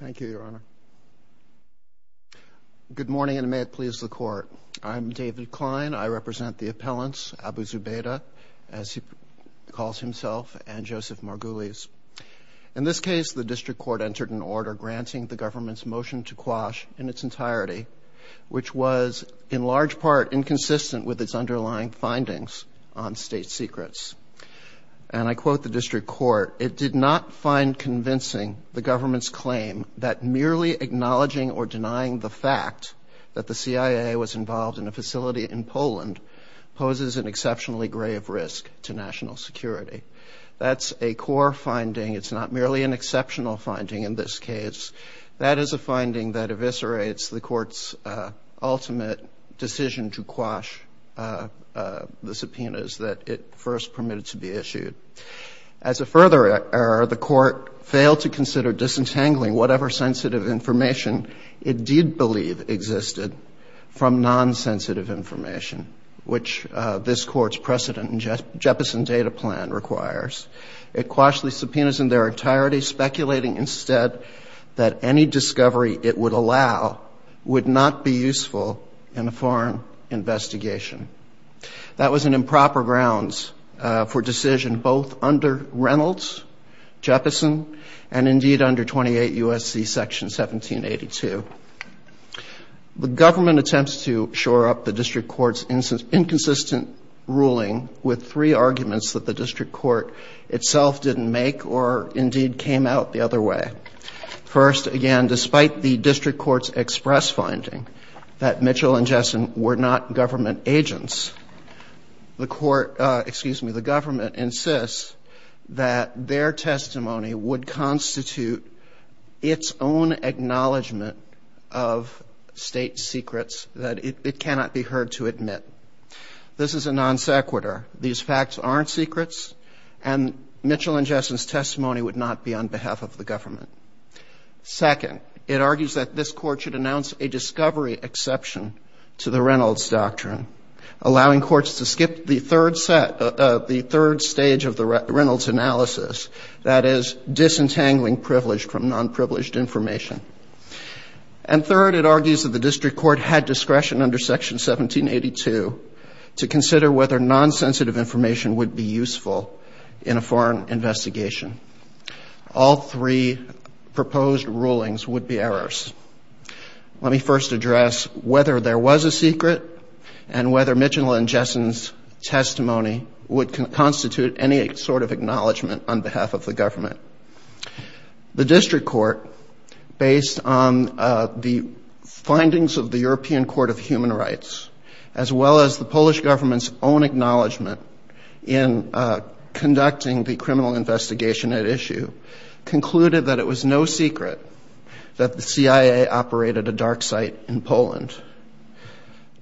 Thank you, Your Honor. Good morning, and may it please the Court. I'm David Klein. I represent the appellants, Abu Zubaydah, as he calls himself, and Joseph Margulies. In this case, the District Court entered an order granting the government's motion to quash in its entirety, which was in large part inconsistent with its underlying findings on state secrets. And I quote the District Court, it did not find convincing the government's claim that merely acknowledging or denying the fact that the CIA was involved in a facility in Poland poses an exceptionally grave risk to national security. That's a core finding. It's not merely an exceptional finding in this case. That is a finding that eviscerates the Court's ultimate decision to quash the subpoenas that it first permitted to be issued. As a further error, the Court failed to consider disentangling whatever sensitive information it did believe existed from nonsensitive information, which this Court's precedent in Jeppesen data plan requires. It quashed the subpoenas in their entirety, speculating instead that any discovery it would allow would not be useful in a foreign investigation. That was an improper grounds for decision both under Reynolds, Jeppesen, and indeed under 28 U.S.C. Section 1782. The government attempts to shore up the District Court's inconsistent ruling with three arguments that the District Court itself didn't make or indeed came out the other way. First, again, despite the District Court's express finding that Mitchell and Jessen were not government agents, the Court, excuse me, the government insists that their testimony would constitute its own acknowledgment of state secrets that it cannot be heard to admit. This is a non sequitur. These facts aren't secrets, and Mitchell and Jessen's testimony would not be on behalf of the government. Second, it argues that this Court should announce a discovery exception to the Reynolds doctrine, allowing courts to skip the third set, the third stage of the Reynolds analysis, that is disentangling privileged from nonprivileged information. And third, it argues that the District Court had discretion under Section 1782 to consider whether nonsensitive information would be useful in a foreign universe. Let me first address whether there was a secret and whether Mitchell and Jessen's testimony would constitute any sort of acknowledgment on behalf of the government. The District Court, based on the findings of the European Court of Human Rights, as well as the Polish government's own acknowledgment in conducting the criminal investigation at issue, concluded that it was no secret that the CIA operated a dark site in Poland.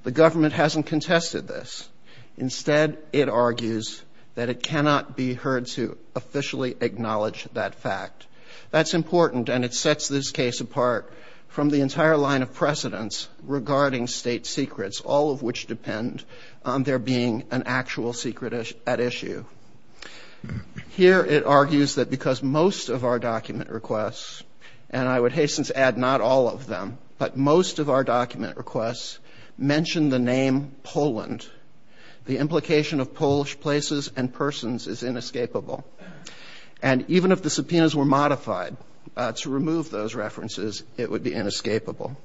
The government hasn't contested this. Instead, it argues that it cannot be heard to officially acknowledge that fact. That's important, and it sets this case apart from the entire line of precedence regarding state secrets, all of which depend on there being an actual secret at issue. Here, it argues that because most of our document requests, and I would hasten to add not all of them, but most of our document requests mention the name Poland, the implication of Polish places and persons is inescapable. And even if the subpoenas were modified to remove those references, it would be inescapable.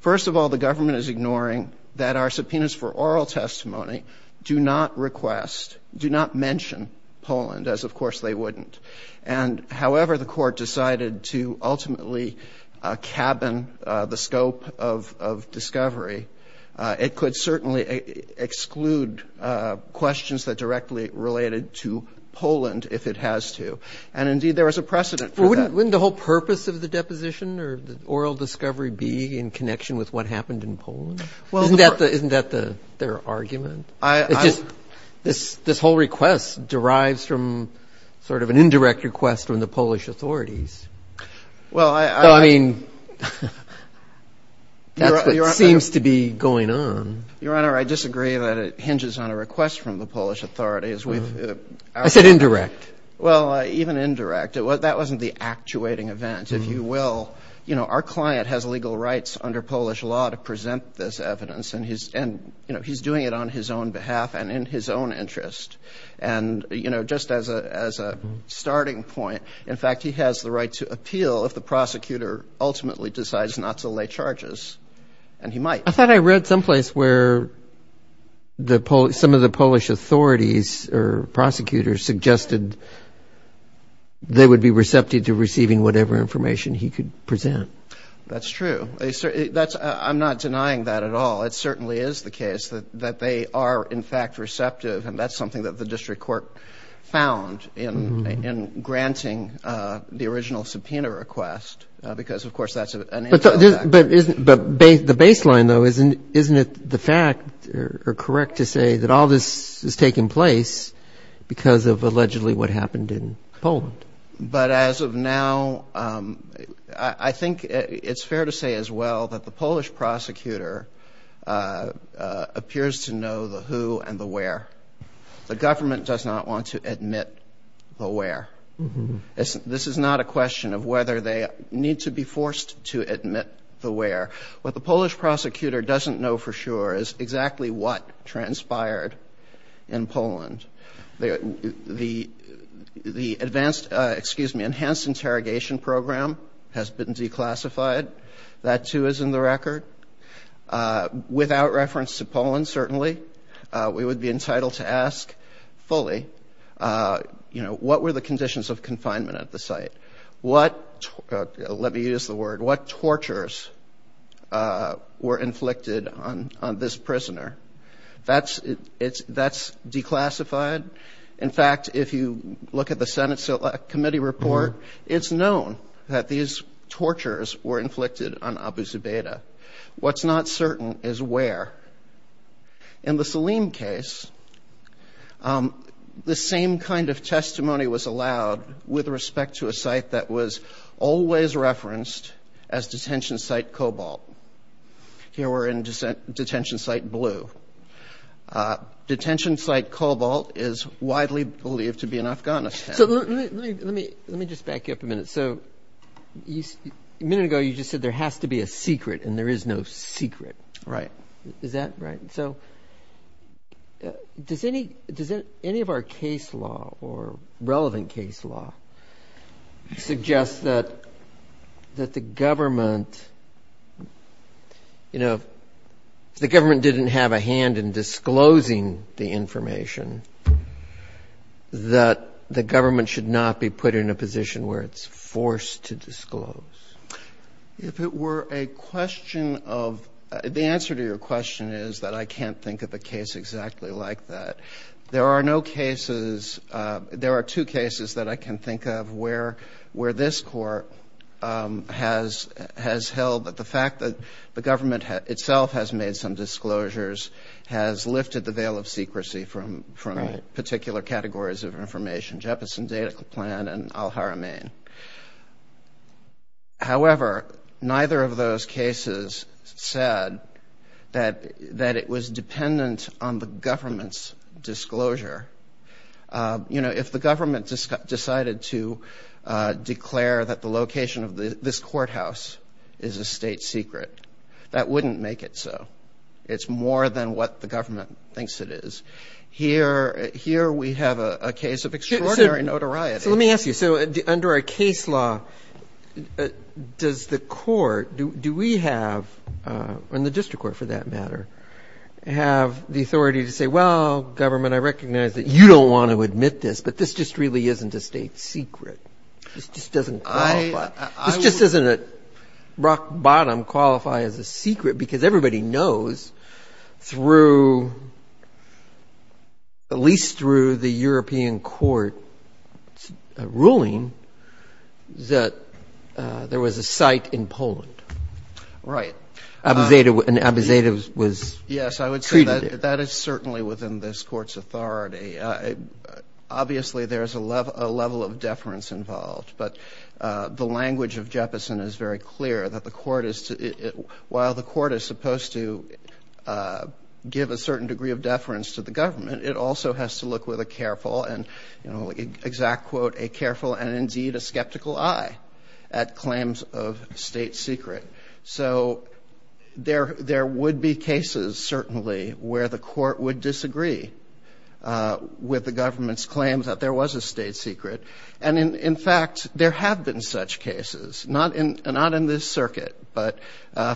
First of all, the government is ignoring that our subpoenas for oral testimony do not request, do not mention Poland, as of course they wouldn't. And however, the court decided to ultimately cabin the scope of discovery, it could certainly exclude questions that directly related to Poland if it has to. And indeed, there was a precedent for that. Wouldn't the whole purpose of the deposition or the oral discovery be in connection with what happened in Poland? Isn't that their argument? This whole request derives from sort of an indirect request from the Polish authorities. Well, I mean, that's what seems to be going on. Your Honor, I disagree that it hinges on a request from the Polish authorities. I said indirect. Well, even indirect. That wasn't the actuating event, if you will. You know, our client has legal rights under Polish law to present this evidence, and he's doing it on his own behalf and in his own interest. And, you know, just as a starting point, in fact, he has the right to appeal if the prosecutor ultimately decides not to lay charges. And he might. I thought I read someplace where some of the Polish authorities or prosecutors suggested they would be receptive to receiving whatever information he could present. That's true. I'm not denying that at all. It certainly is the case that they are, in fact, receptive. And that's something that the district court found in granting the original subpoena request, because, of course, that's an intel fact. But the baseline, though, isn't it the fact or correct to say that all this is taking place because of allegedly what happened in Poland? But as of now, I think it's fair to say as well that the Polish prosecutor appears to know the who and the where. The government does not want to admit the where. This is not a question of whether they need to be forced to admit the where. What the Polish prosecutor found out transpired in Poland. The enhanced interrogation program has been declassified. That, too, is in the record. Without reference to Poland, certainly, we would be entitled to ask fully, you know, what were the conditions of confinement at the site? What, let me use the word, what tortures were inflicted on this prisoner? That's declassified. In fact, if you look at the Senate committee report, it's known that these tortures were inflicted on Abu Zubaydah. What's not certain is where. In the Saleem case, the same kind of testimony was allowed with respect to a site that was always referenced as detention site Kobalt. Here we're in detention site blue. Detention site Kobalt is widely believed to be in Afghanistan. So let me just back you up a minute. A minute ago, you just said there has to be a secret and there is no secret. Is that right? So does any of our case law or relevant case law suggest that the government, you know, the government didn't have a hand in deciding the information, that the government should not be put in a position where it's forced to disclose? If it were a question of, the answer to your question is that I can't think of a case exactly like that. There are no cases, there are two cases that I can think of where this court has held that the fact that the government itself has made some disclosures has lifted the veil of secrecy from particular categories of information, Jeppesen Data Plan and al-Haramain. However, neither of those cases said that it was dependent on the government's disclosure. You know, if the government decided to declare that the location of this courthouse is a state secret, that wouldn't make it so. It's more than what the government thinks it is. Here we have a case of extraordinary notoriety. So let me ask you, so under a case law, does the court, do we have, and the district court for that matter, have the authority to say, well, government, I recognize that you don't want to admit this, but this just really isn't a state secret. This just doesn't qualify. This just doesn't at rock bottom qualify as a secret, because everybody knows through, at least through the European court's ruling, that there was a site in Poland. Right. And Abu Zaid was treated there. Yes, I would say that is certainly within this court's authority. Obviously, there's a level of deference involved, but the language of Jeppesen is very clear that the court is supposed to give a certain degree of deference to the government. It also has to look with a careful and, you know, exact quote, a careful and indeed a skeptical eye at claims of state secret. So there would be cases certainly where the court would disagree with the government's claims that there was a state secret. And in fact, there have been such cases, not in this circuit, but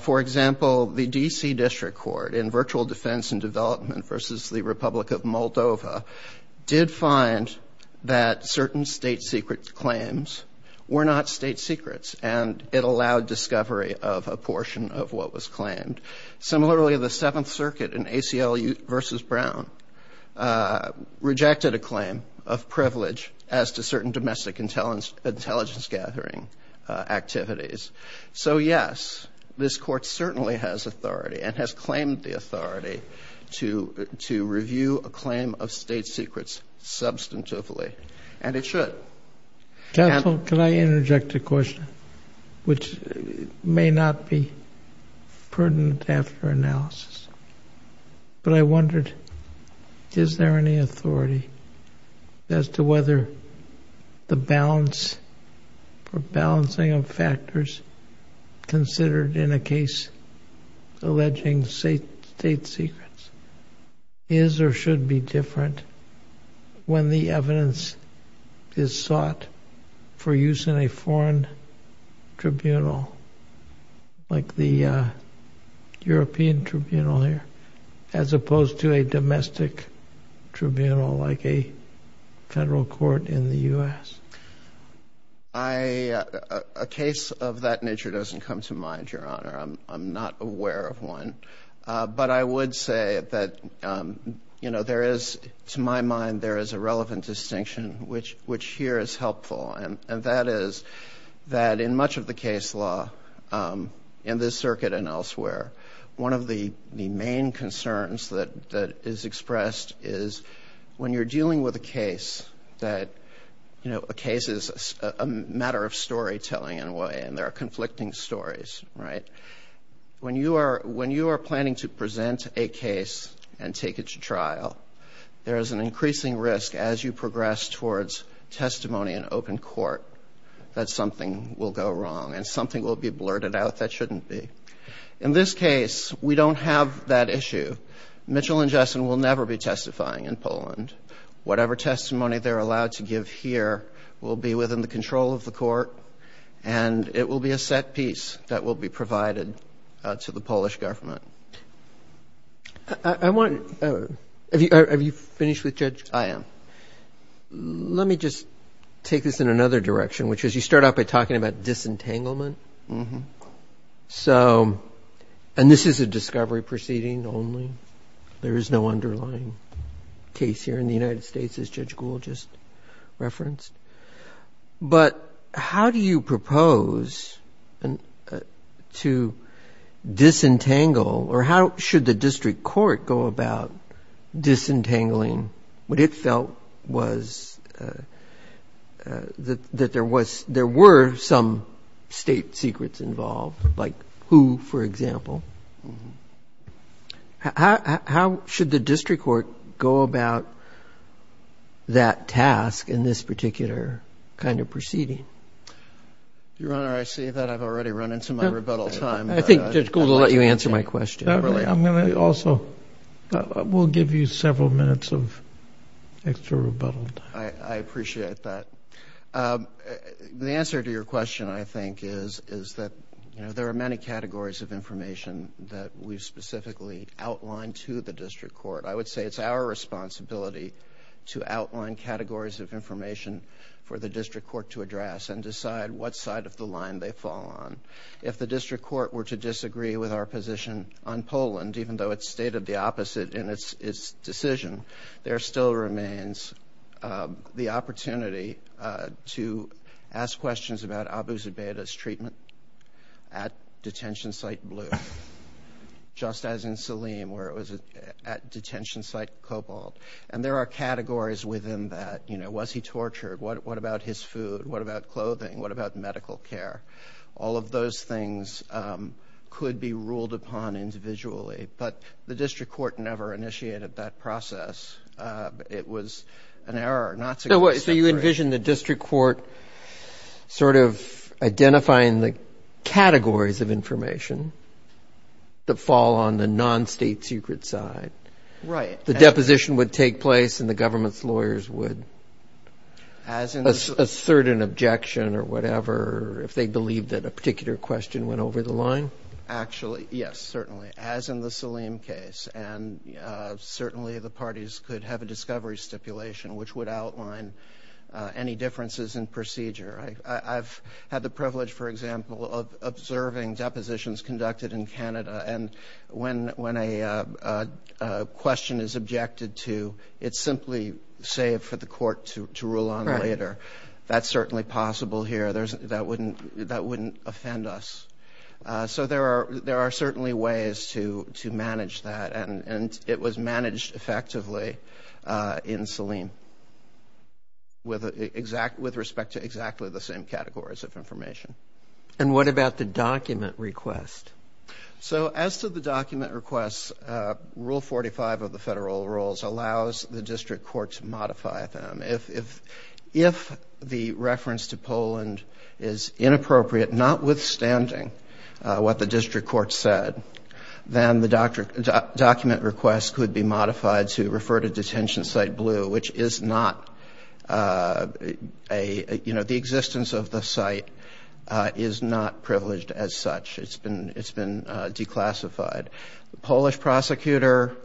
for example, the DC district court in virtual defense and development versus the Republic of Moldova did find that certain state secret claims were not state secrets and it allowed discovery of a portion of what was claimed. Similarly, the seventh circuit in ACLU versus Brown rejected a claim of privilege as to certain domestic intelligence gathering activities. So yes, this court certainly has authority and has claimed the authority to review a claim of state secrets substantively, and it should. Counsel, can I interject a question, which may not be pertinent after analysis, but I wondered, is there any authority as to whether the balance or balancing of factors considered in a case alleging state secrets is or should be different when the evidence is so clear that it is sought for use in a foreign tribunal, like the European tribunal here, as opposed to a domestic tribunal like a federal court in the U.S.? A case of that nature doesn't come to mind, Your Honor. I'm not aware of one. But I would say that, you know, there is, to my mind, there is a relevant distinction, which here is helpful, and that is that in much of the case law in this circuit and elsewhere, one of the main concerns that is expressed is when you're dealing with a case that, you know, a case is a matter of storytelling in a way and there are conflicting stories, right? When you are planning to present a case and take it to trial, there is an increasing risk as you progress towards testimony in open court that something will go wrong and something will be blurted out that shouldn't be. In this case, we don't have that issue. Mitchell and Jessen will never be testifying in Poland. Whatever testimony they're allowed to give here will be within the control of the court, and it will be a set piece that will be provided to the Polish government. I want to, have you finished with Judge Gould? I am. Let me just take this in another direction, which is you start off by talking about disentanglement. So, and this is a discovery proceeding only. There is no underlying case here in the United States, as Judge Gould just referenced. But how do you propose to, you know, how do you disentangle, or how should the district court go about disentangling what it felt was, that there was, there were some state secrets involved, like who, for example? How should the district court go about that task in this particular kind of proceeding? Your Honor, I see that I've already run into my rebuttal time. I think Judge Gould will let you answer my question. I'm going to also, we'll give you several minutes of extra rebuttal time. I appreciate that. The answer to your question, I think, is that, you know, there are many categories of information that we've specifically outlined to the district court. I would say it's our responsibility to outline categories of information for the district court to address and decide what side of the line they fall on. If the district court were to disagree with our position on Poland, even though it's stated the opposite in its decision, there still remains the opportunity to ask questions about Abu Zubaydah's treatment at detention site Cobalt. And there are categories within that, you know, was he tortured? What about his food? What about clothing? What about medical care? All of those things could be ruled upon individually. But the district court never initiated that process. It was an error not to disagree. So you envision the district court sort of identifying the categories of information that fall on the non-state secret side? Right. The deposition would take place and the government's lawyers would assert an objection or whatever if they believed that a particular question went over the line? Actually, yes, certainly, as in the Salim case. And certainly the parties could have a discovery stipulation which would outline any differences in procedure. I've had the question is objected to. It's simply saved for the court to rule on later. That's certainly possible here. That wouldn't offend us. So there are certainly ways to manage that. And it was managed effectively in Salim with respect to exactly the same categories of information. And what about the document request? So as to the document requests, Rule 45 of the federal rules allows the district court to modify them. If the reference to Poland is inappropriate, notwithstanding what the district court said, then the document request could be modified to refer to detention site blue, which is not a, you know, the existence of the site is not privileged as such. It's been declassified. The Polish prosecutor,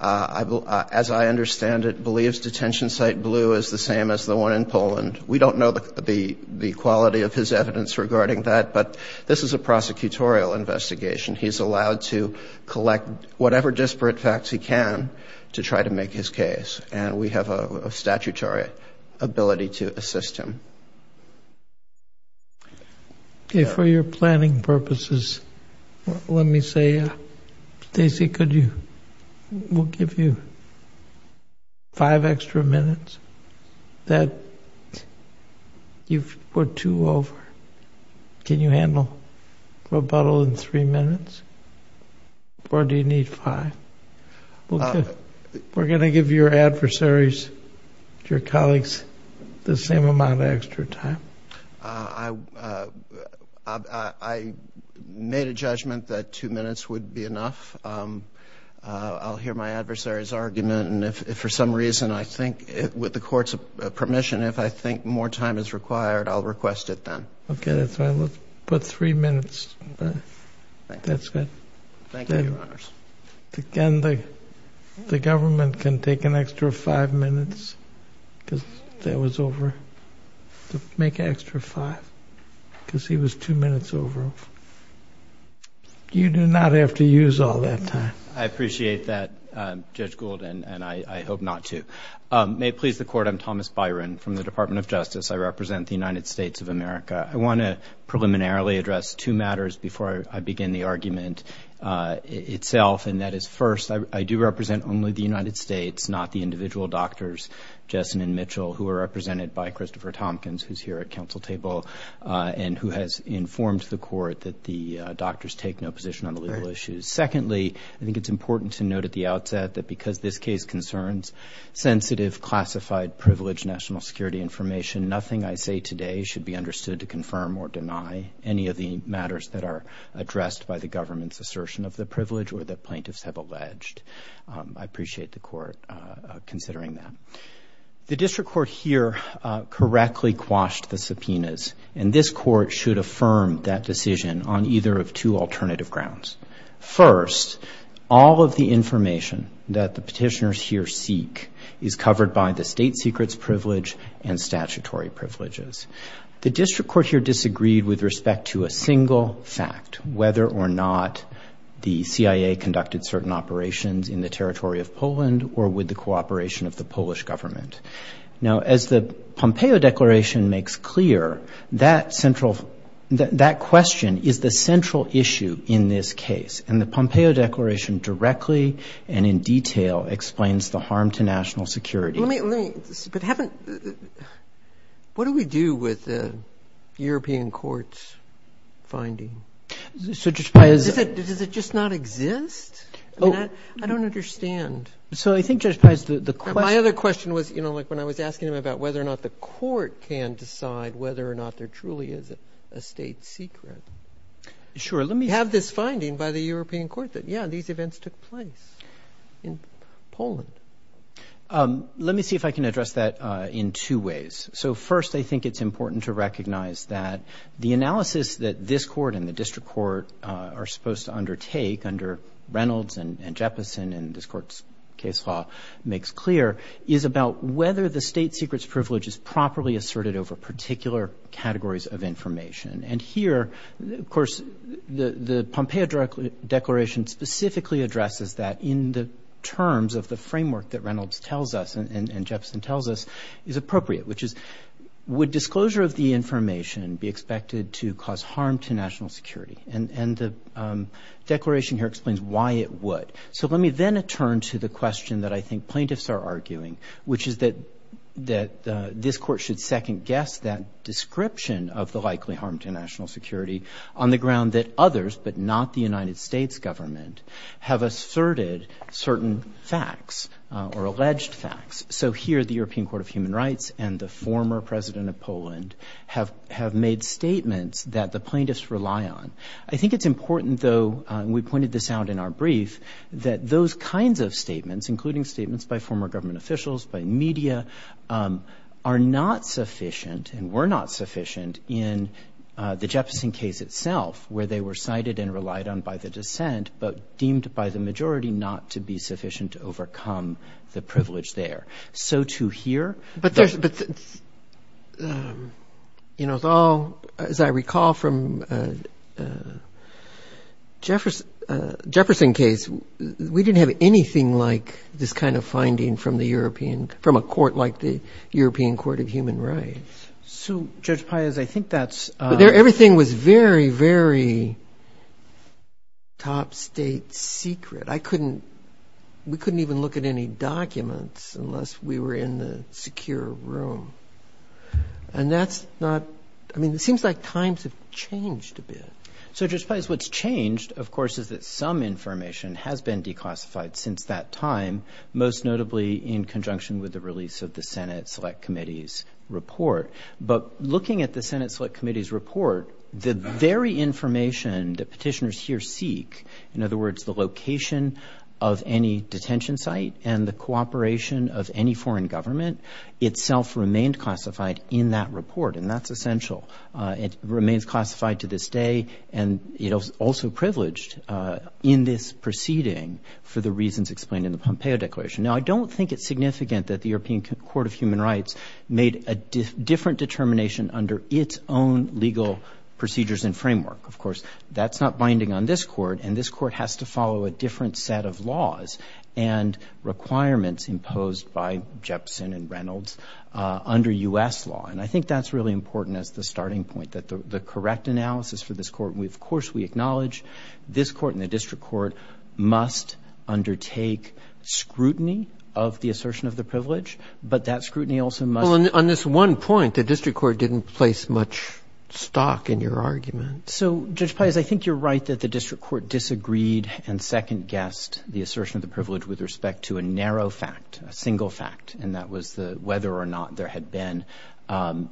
as I understand it, believes detention site blue is the same as the one in Poland. We don't know the quality of his evidence regarding that, but this is a prosecutorial investigation. He's allowed to collect whatever disparate facts he can to try to make his case. And we have a statutory ability to assist him. Okay. For your planning purposes, let me say, Stacy, could you, we'll give you five extra minutes. That, you've put two over. Can you handle rebuttal in three minutes? Or do you need five? We're going to give your adversaries, your colleagues, the same amount of extra time. I made a judgment that two minutes would be enough. I'll hear my adversaries argument and if for some reason I think with the court's permission, if I think more time is required, I'll request it then. Okay. That's fine. Let's put three minutes. That's good. Thank you, Your Honors. Again, the government can take an extra five minutes because that was over. Make an extra five because he was two minutes over. You do not have to use all that time. I appreciate that, Judge Gould, and I hope not to. May it please the court, I'm Thomas Byron from the Department of Justice. I represent the United States of America. I want to preliminarily address two matters before I begin the argument itself, and that is first, I do represent only the United States, not the individual doctors, Jessen and Mitchell, who are represented by Christopher Tompkins, who's here at council table and who has informed the court that the doctors take no position on the legal issues. Secondly, I think it's important to note at the outset that because this case concerns sensitive, classified, privileged national security information, nothing I say today should be understood to confirm or deny any of the matters that are addressed by the government's assertion of the privilege or that plaintiffs have alleged. I appreciate the court considering that. The district court here correctly quashed the subpoenas, and this court should affirm that decision on either of two alternative grounds. First, all of the information that the petitioners here seek is covered by the state secrets privilege and statutory privileges. The district court here disagreed with respect to a single fact, whether or not the CIA conducted certain operations in the territory of Poland or with the cooperation of the Polish government. Now, as the Pompeo Declaration makes clear, that question is the central issue in this bill, explains the harm to national security. Let me... But haven't... What do we do with the European court's finding? So, Judge Pyes- Does it just not exist? I mean, I don't understand. So, I think, Judge Pyes, the question- My other question was, you know, like when I was asking him about whether or not the court can decide whether or not there truly is a state secret. Sure, let me- We have this finding by the European court that, yeah, these events took place in Poland. Let me see if I can address that in two ways. So, first, I think it's important to recognize that the analysis that this court and the district court are supposed to undertake under Reynolds and Jeppesen, and this court's case law makes clear, is about whether the state secret's privilege is properly asserted over particular categories of information. And here, of course, the Pompeo declaration specifically addresses that in the terms of the framework that Reynolds tells us and Jeppesen tells us is appropriate, which is, would disclosure of the information be expected to cause harm to national security? And the declaration here explains why it would. So, let me then turn to the question that I think plaintiffs are arguing, which is that this court should second-guess that description of the likely harm to national security on the ground that others, but not the United States government, have asserted certain facts or alleged facts. So, here, the European Court of Human Rights and the former president of Poland have made statements that the plaintiffs rely on. I think it's important, though, and we pointed this out in our brief, that those kinds of are not sufficient and were not sufficient in the Jeppesen case itself, where they were cited and relied on by the dissent, but deemed by the majority not to be sufficient to overcome the privilege there. So, to hear... But there's, you know, it's all, as I recall from Jeppesen case, we didn't have anything like this kind of finding from the European, from a court like the European Court of Human Rights. So Judge Pius, I think that's... Everything was very, very top state secret. I couldn't, we couldn't even look at any documents unless we were in the secure room. And that's not, I mean, it seems like times have changed a bit. So Judge Pius, what's changed, of course, is that some information has been declassified since that time, most notably in conjunction with the release of the Senate Select Committee's report. But looking at the Senate Select Committee's report, the very information that petitioners here seek, in other words, the location of any detention site and the cooperation of any foreign government, itself remained classified in that report. And that's essential. It remains the same. And I think that's one of the reasons explained in the Pompeo Declaration. Now, I don't think it's significant that the European Court of Human Rights made a different determination under its own legal procedures and framework. Of course, that's not binding on this Court. And this Court has to follow a different set of laws and requirements imposed by Jeppesen and Reynolds under U.S. law. And I think that's really important as the starting point, that the correct analysis for this Court, and, of course, we acknowledge this Court and the district court must undertake scrutiny of the assertion of the privilege, but that scrutiny also must be the same. Well, on this one point, the district court didn't place much stock in your argument. So, Judge Pius, I think you're right that the district court disagreed and second-guessed the assertion of the privilege with respect to a narrow fact, a single fact, and that was whether or not there had been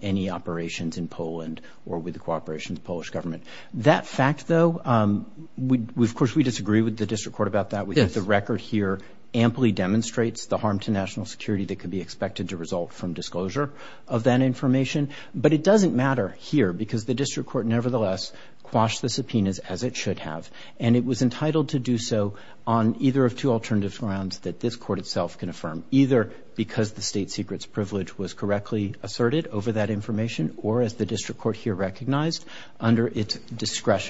any operations in Poland or with the cooperation of the Polish government. That fact, though, of course, we disagree with the district court about that. Yes. We think the record here amply demonstrates the harm to national security that could be expected to result from disclosure of that information. But it doesn't matter here because the district court nevertheless quashed the subpoenas, as it should have, and it was entitled to do so on either of two alternative grounds that this Court itself can affirm, either its discretion,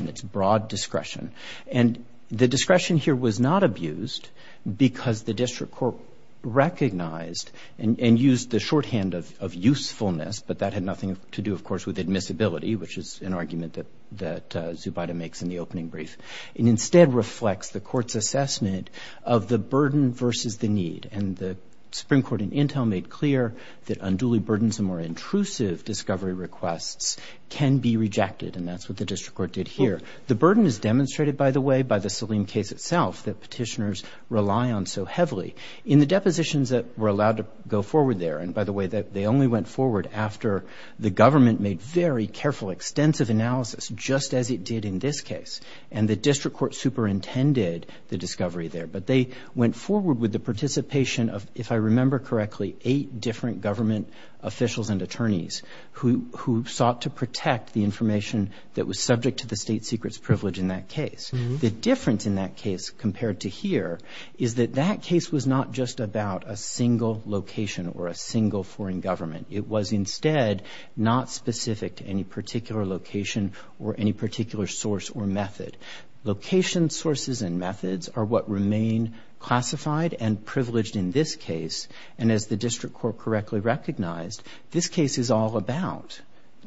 its broad discretion. And the discretion here was not abused because the district court recognized and used the shorthand of usefulness, but that had nothing to do, of course, with admissibility, which is an argument that Zubida makes in the opening brief. It instead reflects the Court's assessment of the burden versus the need. And the Supreme Court in Intel made clear that unduly burdensome or intrusive discovery requests can be rejected, and that's what the district court did here. The burden is demonstrated, by the way, by the Saleem case itself that petitioners rely on so heavily. In the depositions that were allowed to go forward there, and by the way, they only went forward after the government made very careful, extensive analysis, just as it did in this case, and the district court superintended the discovery there. But they went forward with the participation of, if I remember correctly, eight different government officials and attorneys who sought to protect the information that was subject to the state secret's privilege in that case. The difference in that case compared to here is that that case was not just about a single location or a single foreign government. It was instead not specific to any particular location or any particular source or method. Location sources and methods are what remain classified and privileged in this case, and as the district court correctly recognized, this case is all about,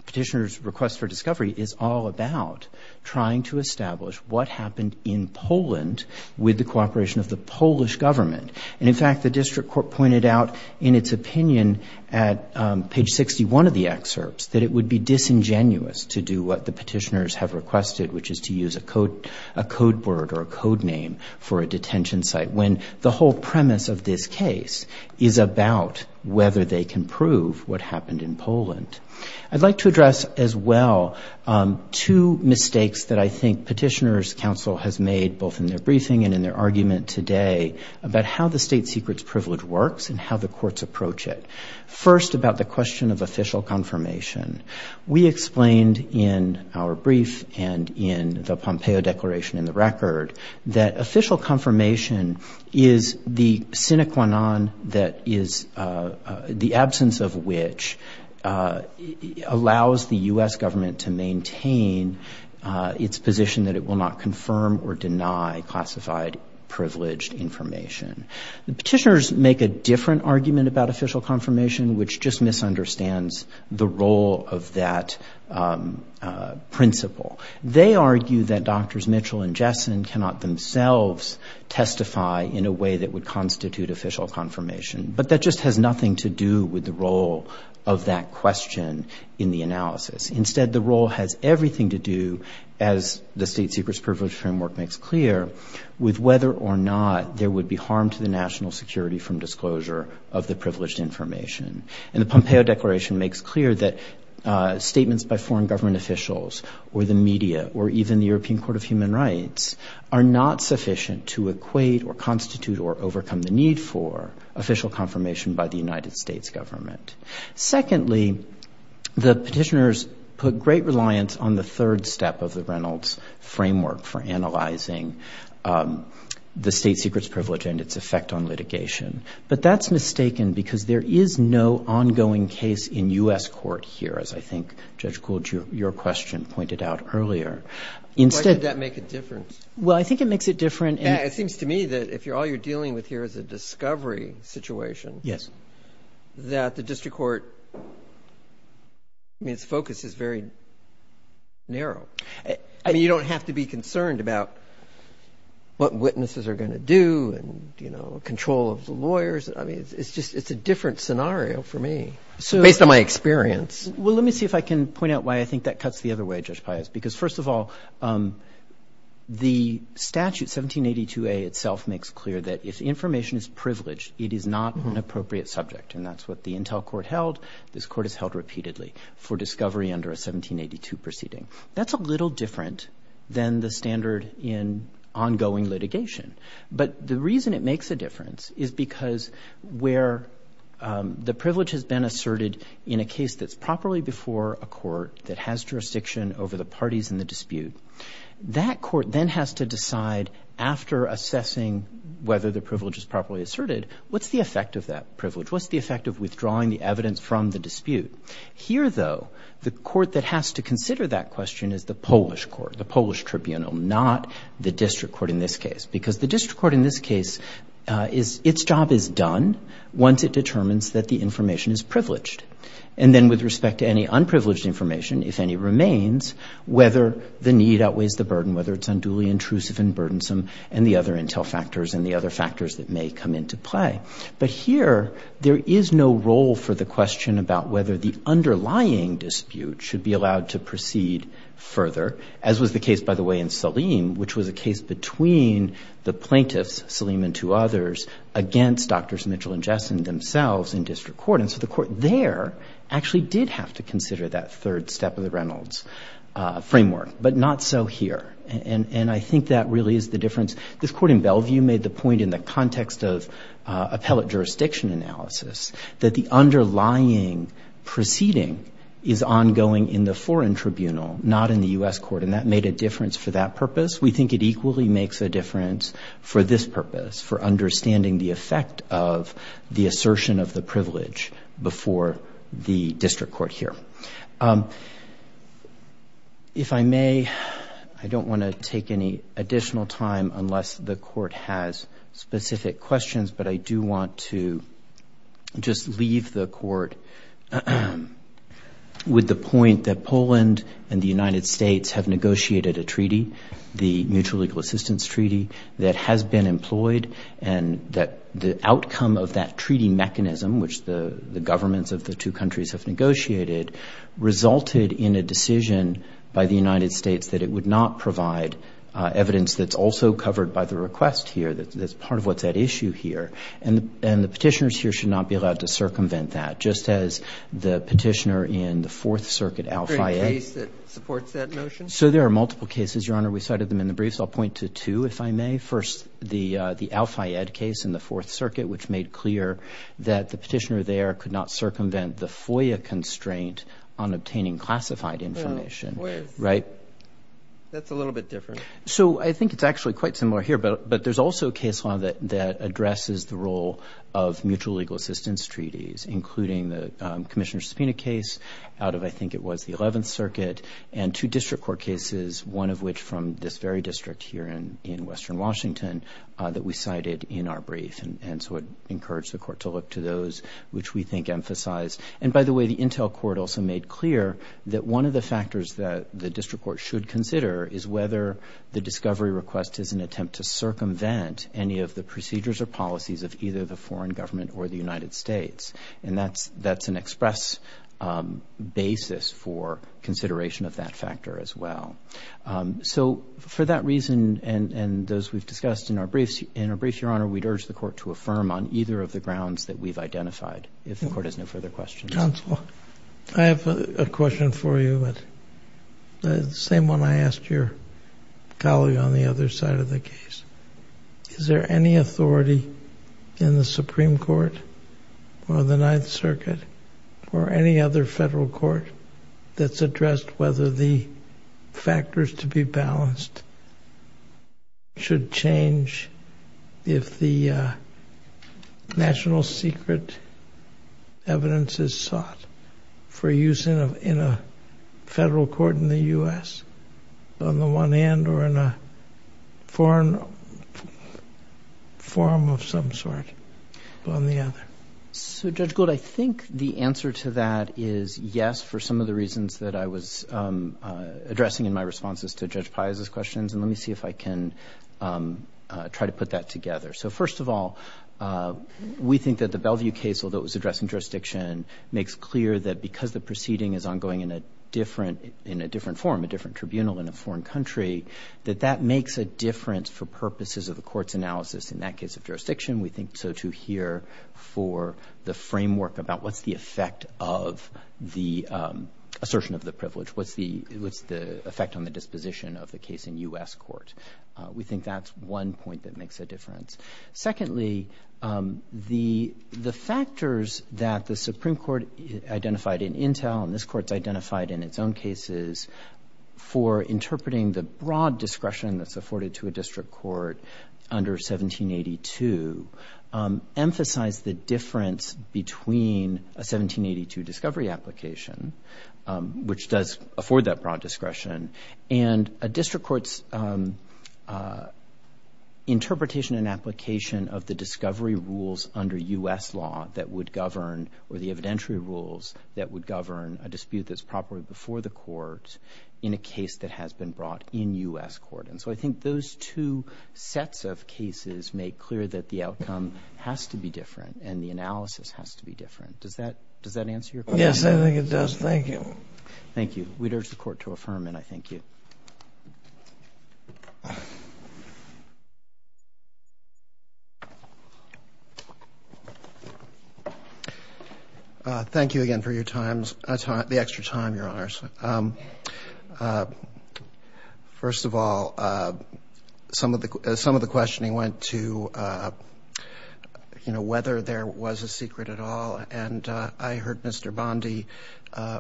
petitioner's request for discovery is all about trying to establish what happened in Poland with the cooperation of the Polish government. And in fact, the district court pointed out in its opinion at page 61 of the excerpts that it would be disingenuous to do what the petitioners have requested, which is to use a code word or a code name for a detention site, when the whole premise of this case is about whether they can prove what happened in Poland. I'd like to address as well two mistakes that I think Petitioner's Council has made both in their briefing and in their argument today about how the state secret's privilege works and how the courts approach it. First, about the question of official confirmation. We record that official confirmation is the sine qua non that is the absence of which allows the U.S. government to maintain its position that it will not confirm or deny classified privileged information. The petitioners make a different argument about official confirmation, which just misunderstands the role of that principle. They argue that Drs. Mitchell and Jessen cannot themselves testify in a way that would constitute official confirmation. But that just has nothing to do with the role of that question in the analysis. Instead, the role has everything to do, as the state secret's privilege framework makes clear, with whether or not there would be harm to the national security from disclosure of the privileged information. And the Pompeo Declaration makes clear that statements by foreign government officials or the media or even the European Court of Human Rights are not sufficient to equate or constitute or overcome the need for official confirmation by the United States government. Secondly, the petitioners put great reliance on the third step of the Reynolds framework for analyzing the state secret's privilege and its effect on litigation. But that's mistaken because there is no ongoing case in U.S. court here, as I think Judge Gould, your question pointed out earlier. Instead- Why did that make a difference? Well, I think it makes it different in- It seems to me that if all you're dealing with here is a discovery situation- Yes. That the district court, I mean, its focus is very narrow. I mean, you don't have to be concerned about what witnesses are going to do and, you know, control of the lawyers. I mean, it's just, it's a different scenario for me based on my experience. Well, let me see if I can point out why I think that cuts the other way, Judge Pius, because first of all, the statute 1782A itself makes clear that if information is privileged, it is not an appropriate subject. And that's what the Intel court held. This court has held repeatedly for discovery under a 1782 proceeding. That's a little different than the standard in ongoing litigation. But the reason it makes a difference is because where the privilege has been asserted in a case that's properly before a court that has jurisdiction over the parties in the dispute, that court then has to decide after assessing whether the privilege is properly asserted, what's the effect of that privilege? What's the effect of withdrawing the evidence from the dispute? Here, though, the court that has to consider that question is the Polish court, the Polish tribunal, not the district court in this case. Because the district court in this case is, its job is done once it determines that the information is privileged. And then with respect to any unprivileged information, if any remains, whether the need outweighs the burden, whether it's unduly intrusive and burdensome and the other Intel factors and the other factors that may come into play. But here, there is no role for the question about whether the underlying dispute should be allowed to proceed further, as was the case, by the way, in Salim, which was a case between the plaintiffs, Salim and two others, against Drs. Mitchell and Jessen themselves in district court. And so the court there actually did have to consider that third step of the Reynolds framework, but not so here. And I think that really is the difference. This court in Bellevue made the point in the context of appellate jurisdiction analysis that the underlying proceeding is ongoing in the foreign tribunal, not in the U.S. court. And that made a difference for that purpose. We think it equally makes a difference for this purpose, for understanding the effect of the assertion of the privilege before the district court here. If I may, I don't want to take any additional time unless the court has specific questions, but I do want to just leave the court with the point that Poland and the United States have negotiated a treaty, the Mutual Legal Assistance Treaty, that has been employed and that the outcome of that treaty mechanism, which the governments of the two countries have negotiated, resulted in a decision by the United States that it would not provide evidence that's also covered by the request here, that's part of what's at issue here. And the petitioners here should not be allowed to circumvent that, just as the petitioner in the Fourth Circuit, Al-Fayed. Is there a case that supports that notion? So there are multiple cases, Your Honor. We cited them in the briefs. I'll point to two, if I may. First, the Al-Fayed case in the Fourth Circuit, which made clear that the petitioner there could not circumvent the FOIA constraint on obtaining classified information. FOIA is? Right. That's a little bit different. So I think it's actually quite similar here, but there's also a case law that addresses the role of Mutual Legal Assistance Treaties, including the Commissioner's Subpoena case out of, I think it was, the Eleventh Circuit, and two district court cases, one of which from this very district here in Western Washington, that we cited in our brief. And so I'd encourage the court to look to those, which we think emphasize. And by the way, the Intel Court also made clear that one of the factors that the district court should consider is whether the discovery request is an attempt to circumvent any of the procedures or policies of either the foreign government or the United States. And that's an express basis for consideration of that factor as well. So for that reason, and those we've discussed in our briefs, Your Honor, we'd urge the court to affirm on either of the grounds that we've identified, if the court has no further questions. Counsel, I have a question for you, the same one I asked your colleague on the other side of the case. Is there any authority in the Supreme Court or the Ninth Circuit or any other federal court that's addressed whether the factors to be balanced should change if the national secret evidence is sought for use in a federal court in the U.S. on the one hand or in a foreign forum of some sort on the other? So Judge Gould, I think the answer to that is yes, for some of the reasons that I was addressing in my responses to Judge Piazza's questions. And let me see if I can try to put that together. So first of all, we think that the Bellevue case, although it was addressed in jurisdiction, makes clear that because the proceeding is ongoing in a different forum, a different tribunal in a foreign country, that that makes a difference for purposes of the court's analysis in that case of jurisdiction. We think so too here for the framework about what's the effect of the assertion of the privilege, what's the effect on the disposition of the case in U.S. court. We think that's one point that makes a difference. Secondly, the factors that the Supreme Court identified in Intel and this Court's identified in its own cases for interpreting the broad discretion that's afforded to a district court under 1782 emphasize the difference between a 1782 discovery application, which does afford that broad discretion, and a district court's interpretation and application of the discovery rules under U.S. law that would govern or the evidentiary rules that would govern a dispute that's properly before the court in a case that has been brought in U.S. court. And so I think those two sets of cases make clear that the outcome has to be different and the analysis has to be different. Does that answer your question? Yes, I think it does. Thank you. Thank you. We'd urge the Court to affirm, and I thank you. Thank you again for your time, the extra time, Your Honors. First of all, some of the questioning went to whether there was a secret at all, and I heard Mr. Bondi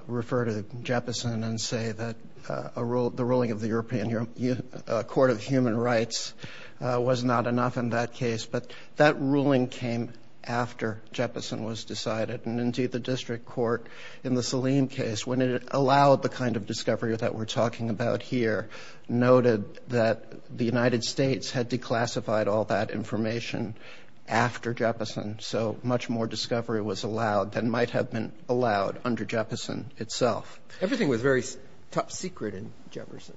refer to Jeppesen and say that the ruling of the European Court of Human Rights was not enough in that case, but that ruling came after Jeppesen was decided. And indeed, the district court in the Saleem case, when it allowed the kind of discovery that we're talking about here, noted that the United States had declassified all that information after Jeppesen, so much more discovery was allowed than might have been allowed under Jeppesen itself. Everything was very top secret in Jeppesen.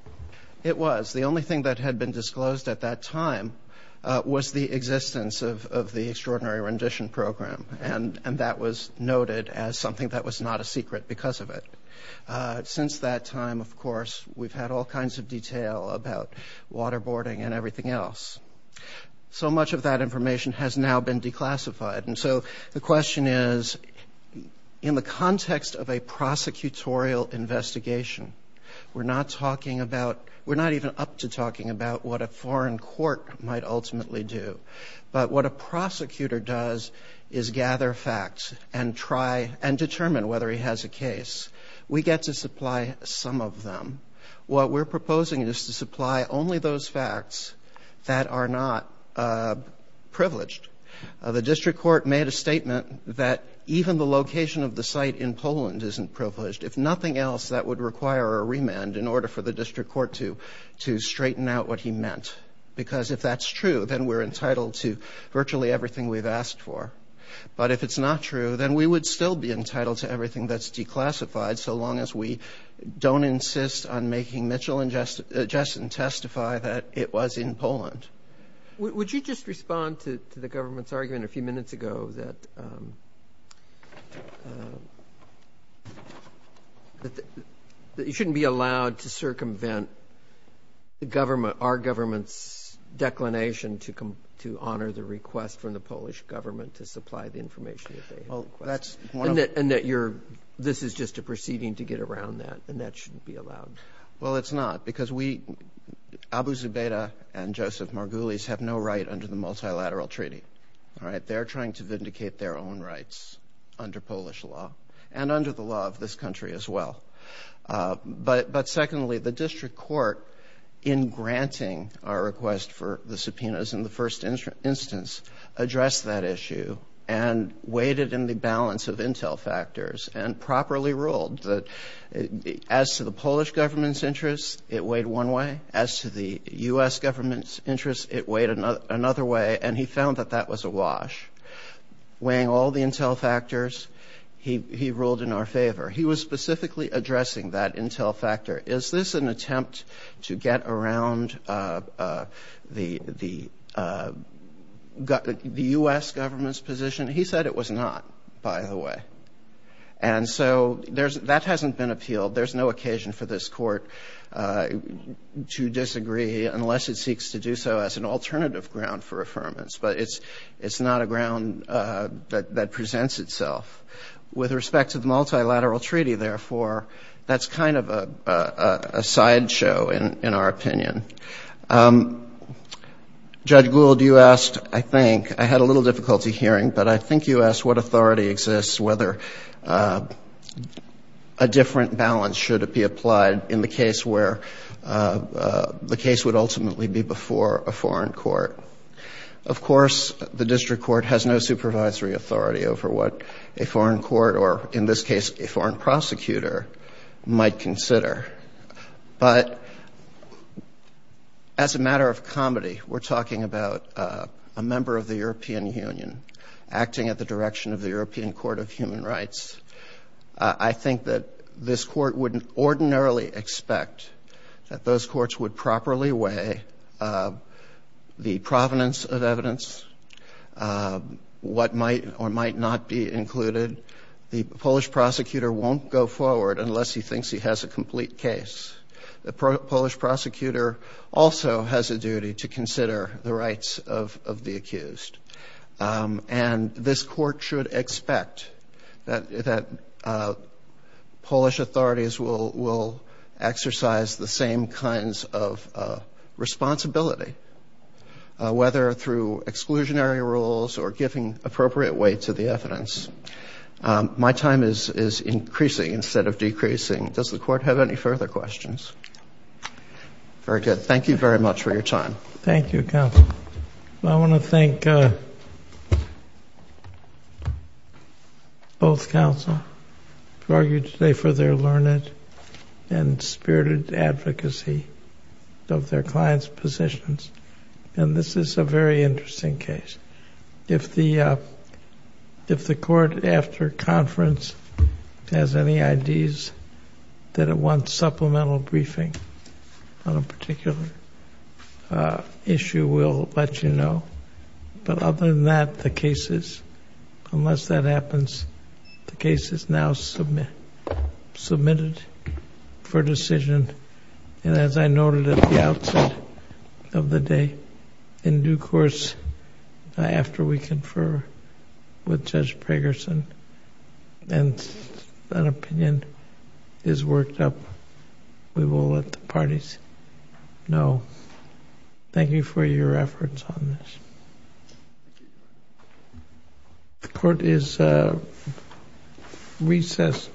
It was. The only thing that had been disclosed at that time was the existence of the Extraordinary Rendition Program, and that was noted as something that was not a secret because of it. Since that time, of course, we've had all kinds of detail about waterboarding and everything else. So much of that information has now been declassified, and so the question is, in the context of a prosecutorial investigation, we're not talking about, we're not even up to talking about what a foreign court might ultimately do, but what a prosecutor does is gather facts and try and determine whether he has a case. We get to supply some of them. What we're proposing is to supply only those facts that are not privileged. The district court made a statement that even the location of the site in Poland isn't privileged. If nothing else, that would require a remand in order for the district court to straighten out what he meant, because if that's true, then we're entitled to virtually everything we've asked for. But if it's not true, then we would still be entitled to everything that's declassified so long as we don't insist on making Mitchell and Jessen testify that it was in Poland. Would you just respond to the government's argument a few minutes ago that you shouldn't be allowed to circumvent our government's declination to honor the request from the Polish government to supply the information that they have? And that you're, this is just a proceeding to get around that, and that shouldn't be allowed? Well, it's not, because we, Abu Zubaydah and Joseph Margulies, have no right under the multilateral treaty. They're trying to vindicate their own rights under Polish law, and under the law of this country as well. But secondly, the district court, in granting our request for the subpoenas in the first instance, addressed that issue, and weighed it in the balance of intel factors, and properly ruled that as to the Polish government's interest, it weighed one way. As to the U.S. government's interest, it weighed another way, and he found that that was awash. Weighing all the intel factors, he ruled in our favor. He was specifically addressing that intel factor. Is this an attempt to get around the U.S. government's position? He said it was not, by the way. And so, that hasn't been appealed. There's no occasion for this court to disagree, unless it seeks to do so as an alternative ground for affirmance. But it's not a ground that presents itself. With respect to the multilateral treaty, therefore, that's kind of a sideshow, in our opinion. Judge Gould, you asked, I think, I had a little difficulty hearing, but I think you asked what authority exists, whether a different balance should be applied in the case where the case would ultimately be before a foreign court. Of course, the district court has no supervisory authority over what a foreign court, or in this case, a foreign prosecutor, might consider. But as a matter of comedy, we're talking about a member of the European Union acting at the direction of the European Court of Human Rights. I think that this court wouldn't ordinarily expect that those courts would properly weigh the provenance of evidence, what might or might not be included. The Polish prosecutor won't go forward unless he thinks he has a complete case. The Polish prosecutor also has a duty to consider the rights of the accused. And this court should expect that Polish authorities will exercise the same kinds of responsibility, whether through exclusionary rules or giving appropriate weight to the evidence. My time is increasing instead of decreasing. Does the court have any further questions? Very good. Thank you very much for your time. Thank you, counsel. I want to thank both counsel who argued today for their learned and spirited advocacy of their clients' positions. And this is a very interesting case. If the court after conference has any ideas that it wants supplemental briefing on a particular issue, we'll let you know. But other than that, the cases, unless that happens, the case is now submitted for decision. And as I noted at the outset of the day, in due course after we confer with Judge Pragerson and an opinion is worked up, we will let the parties know. Thank you for your efforts on this. The court is recessed.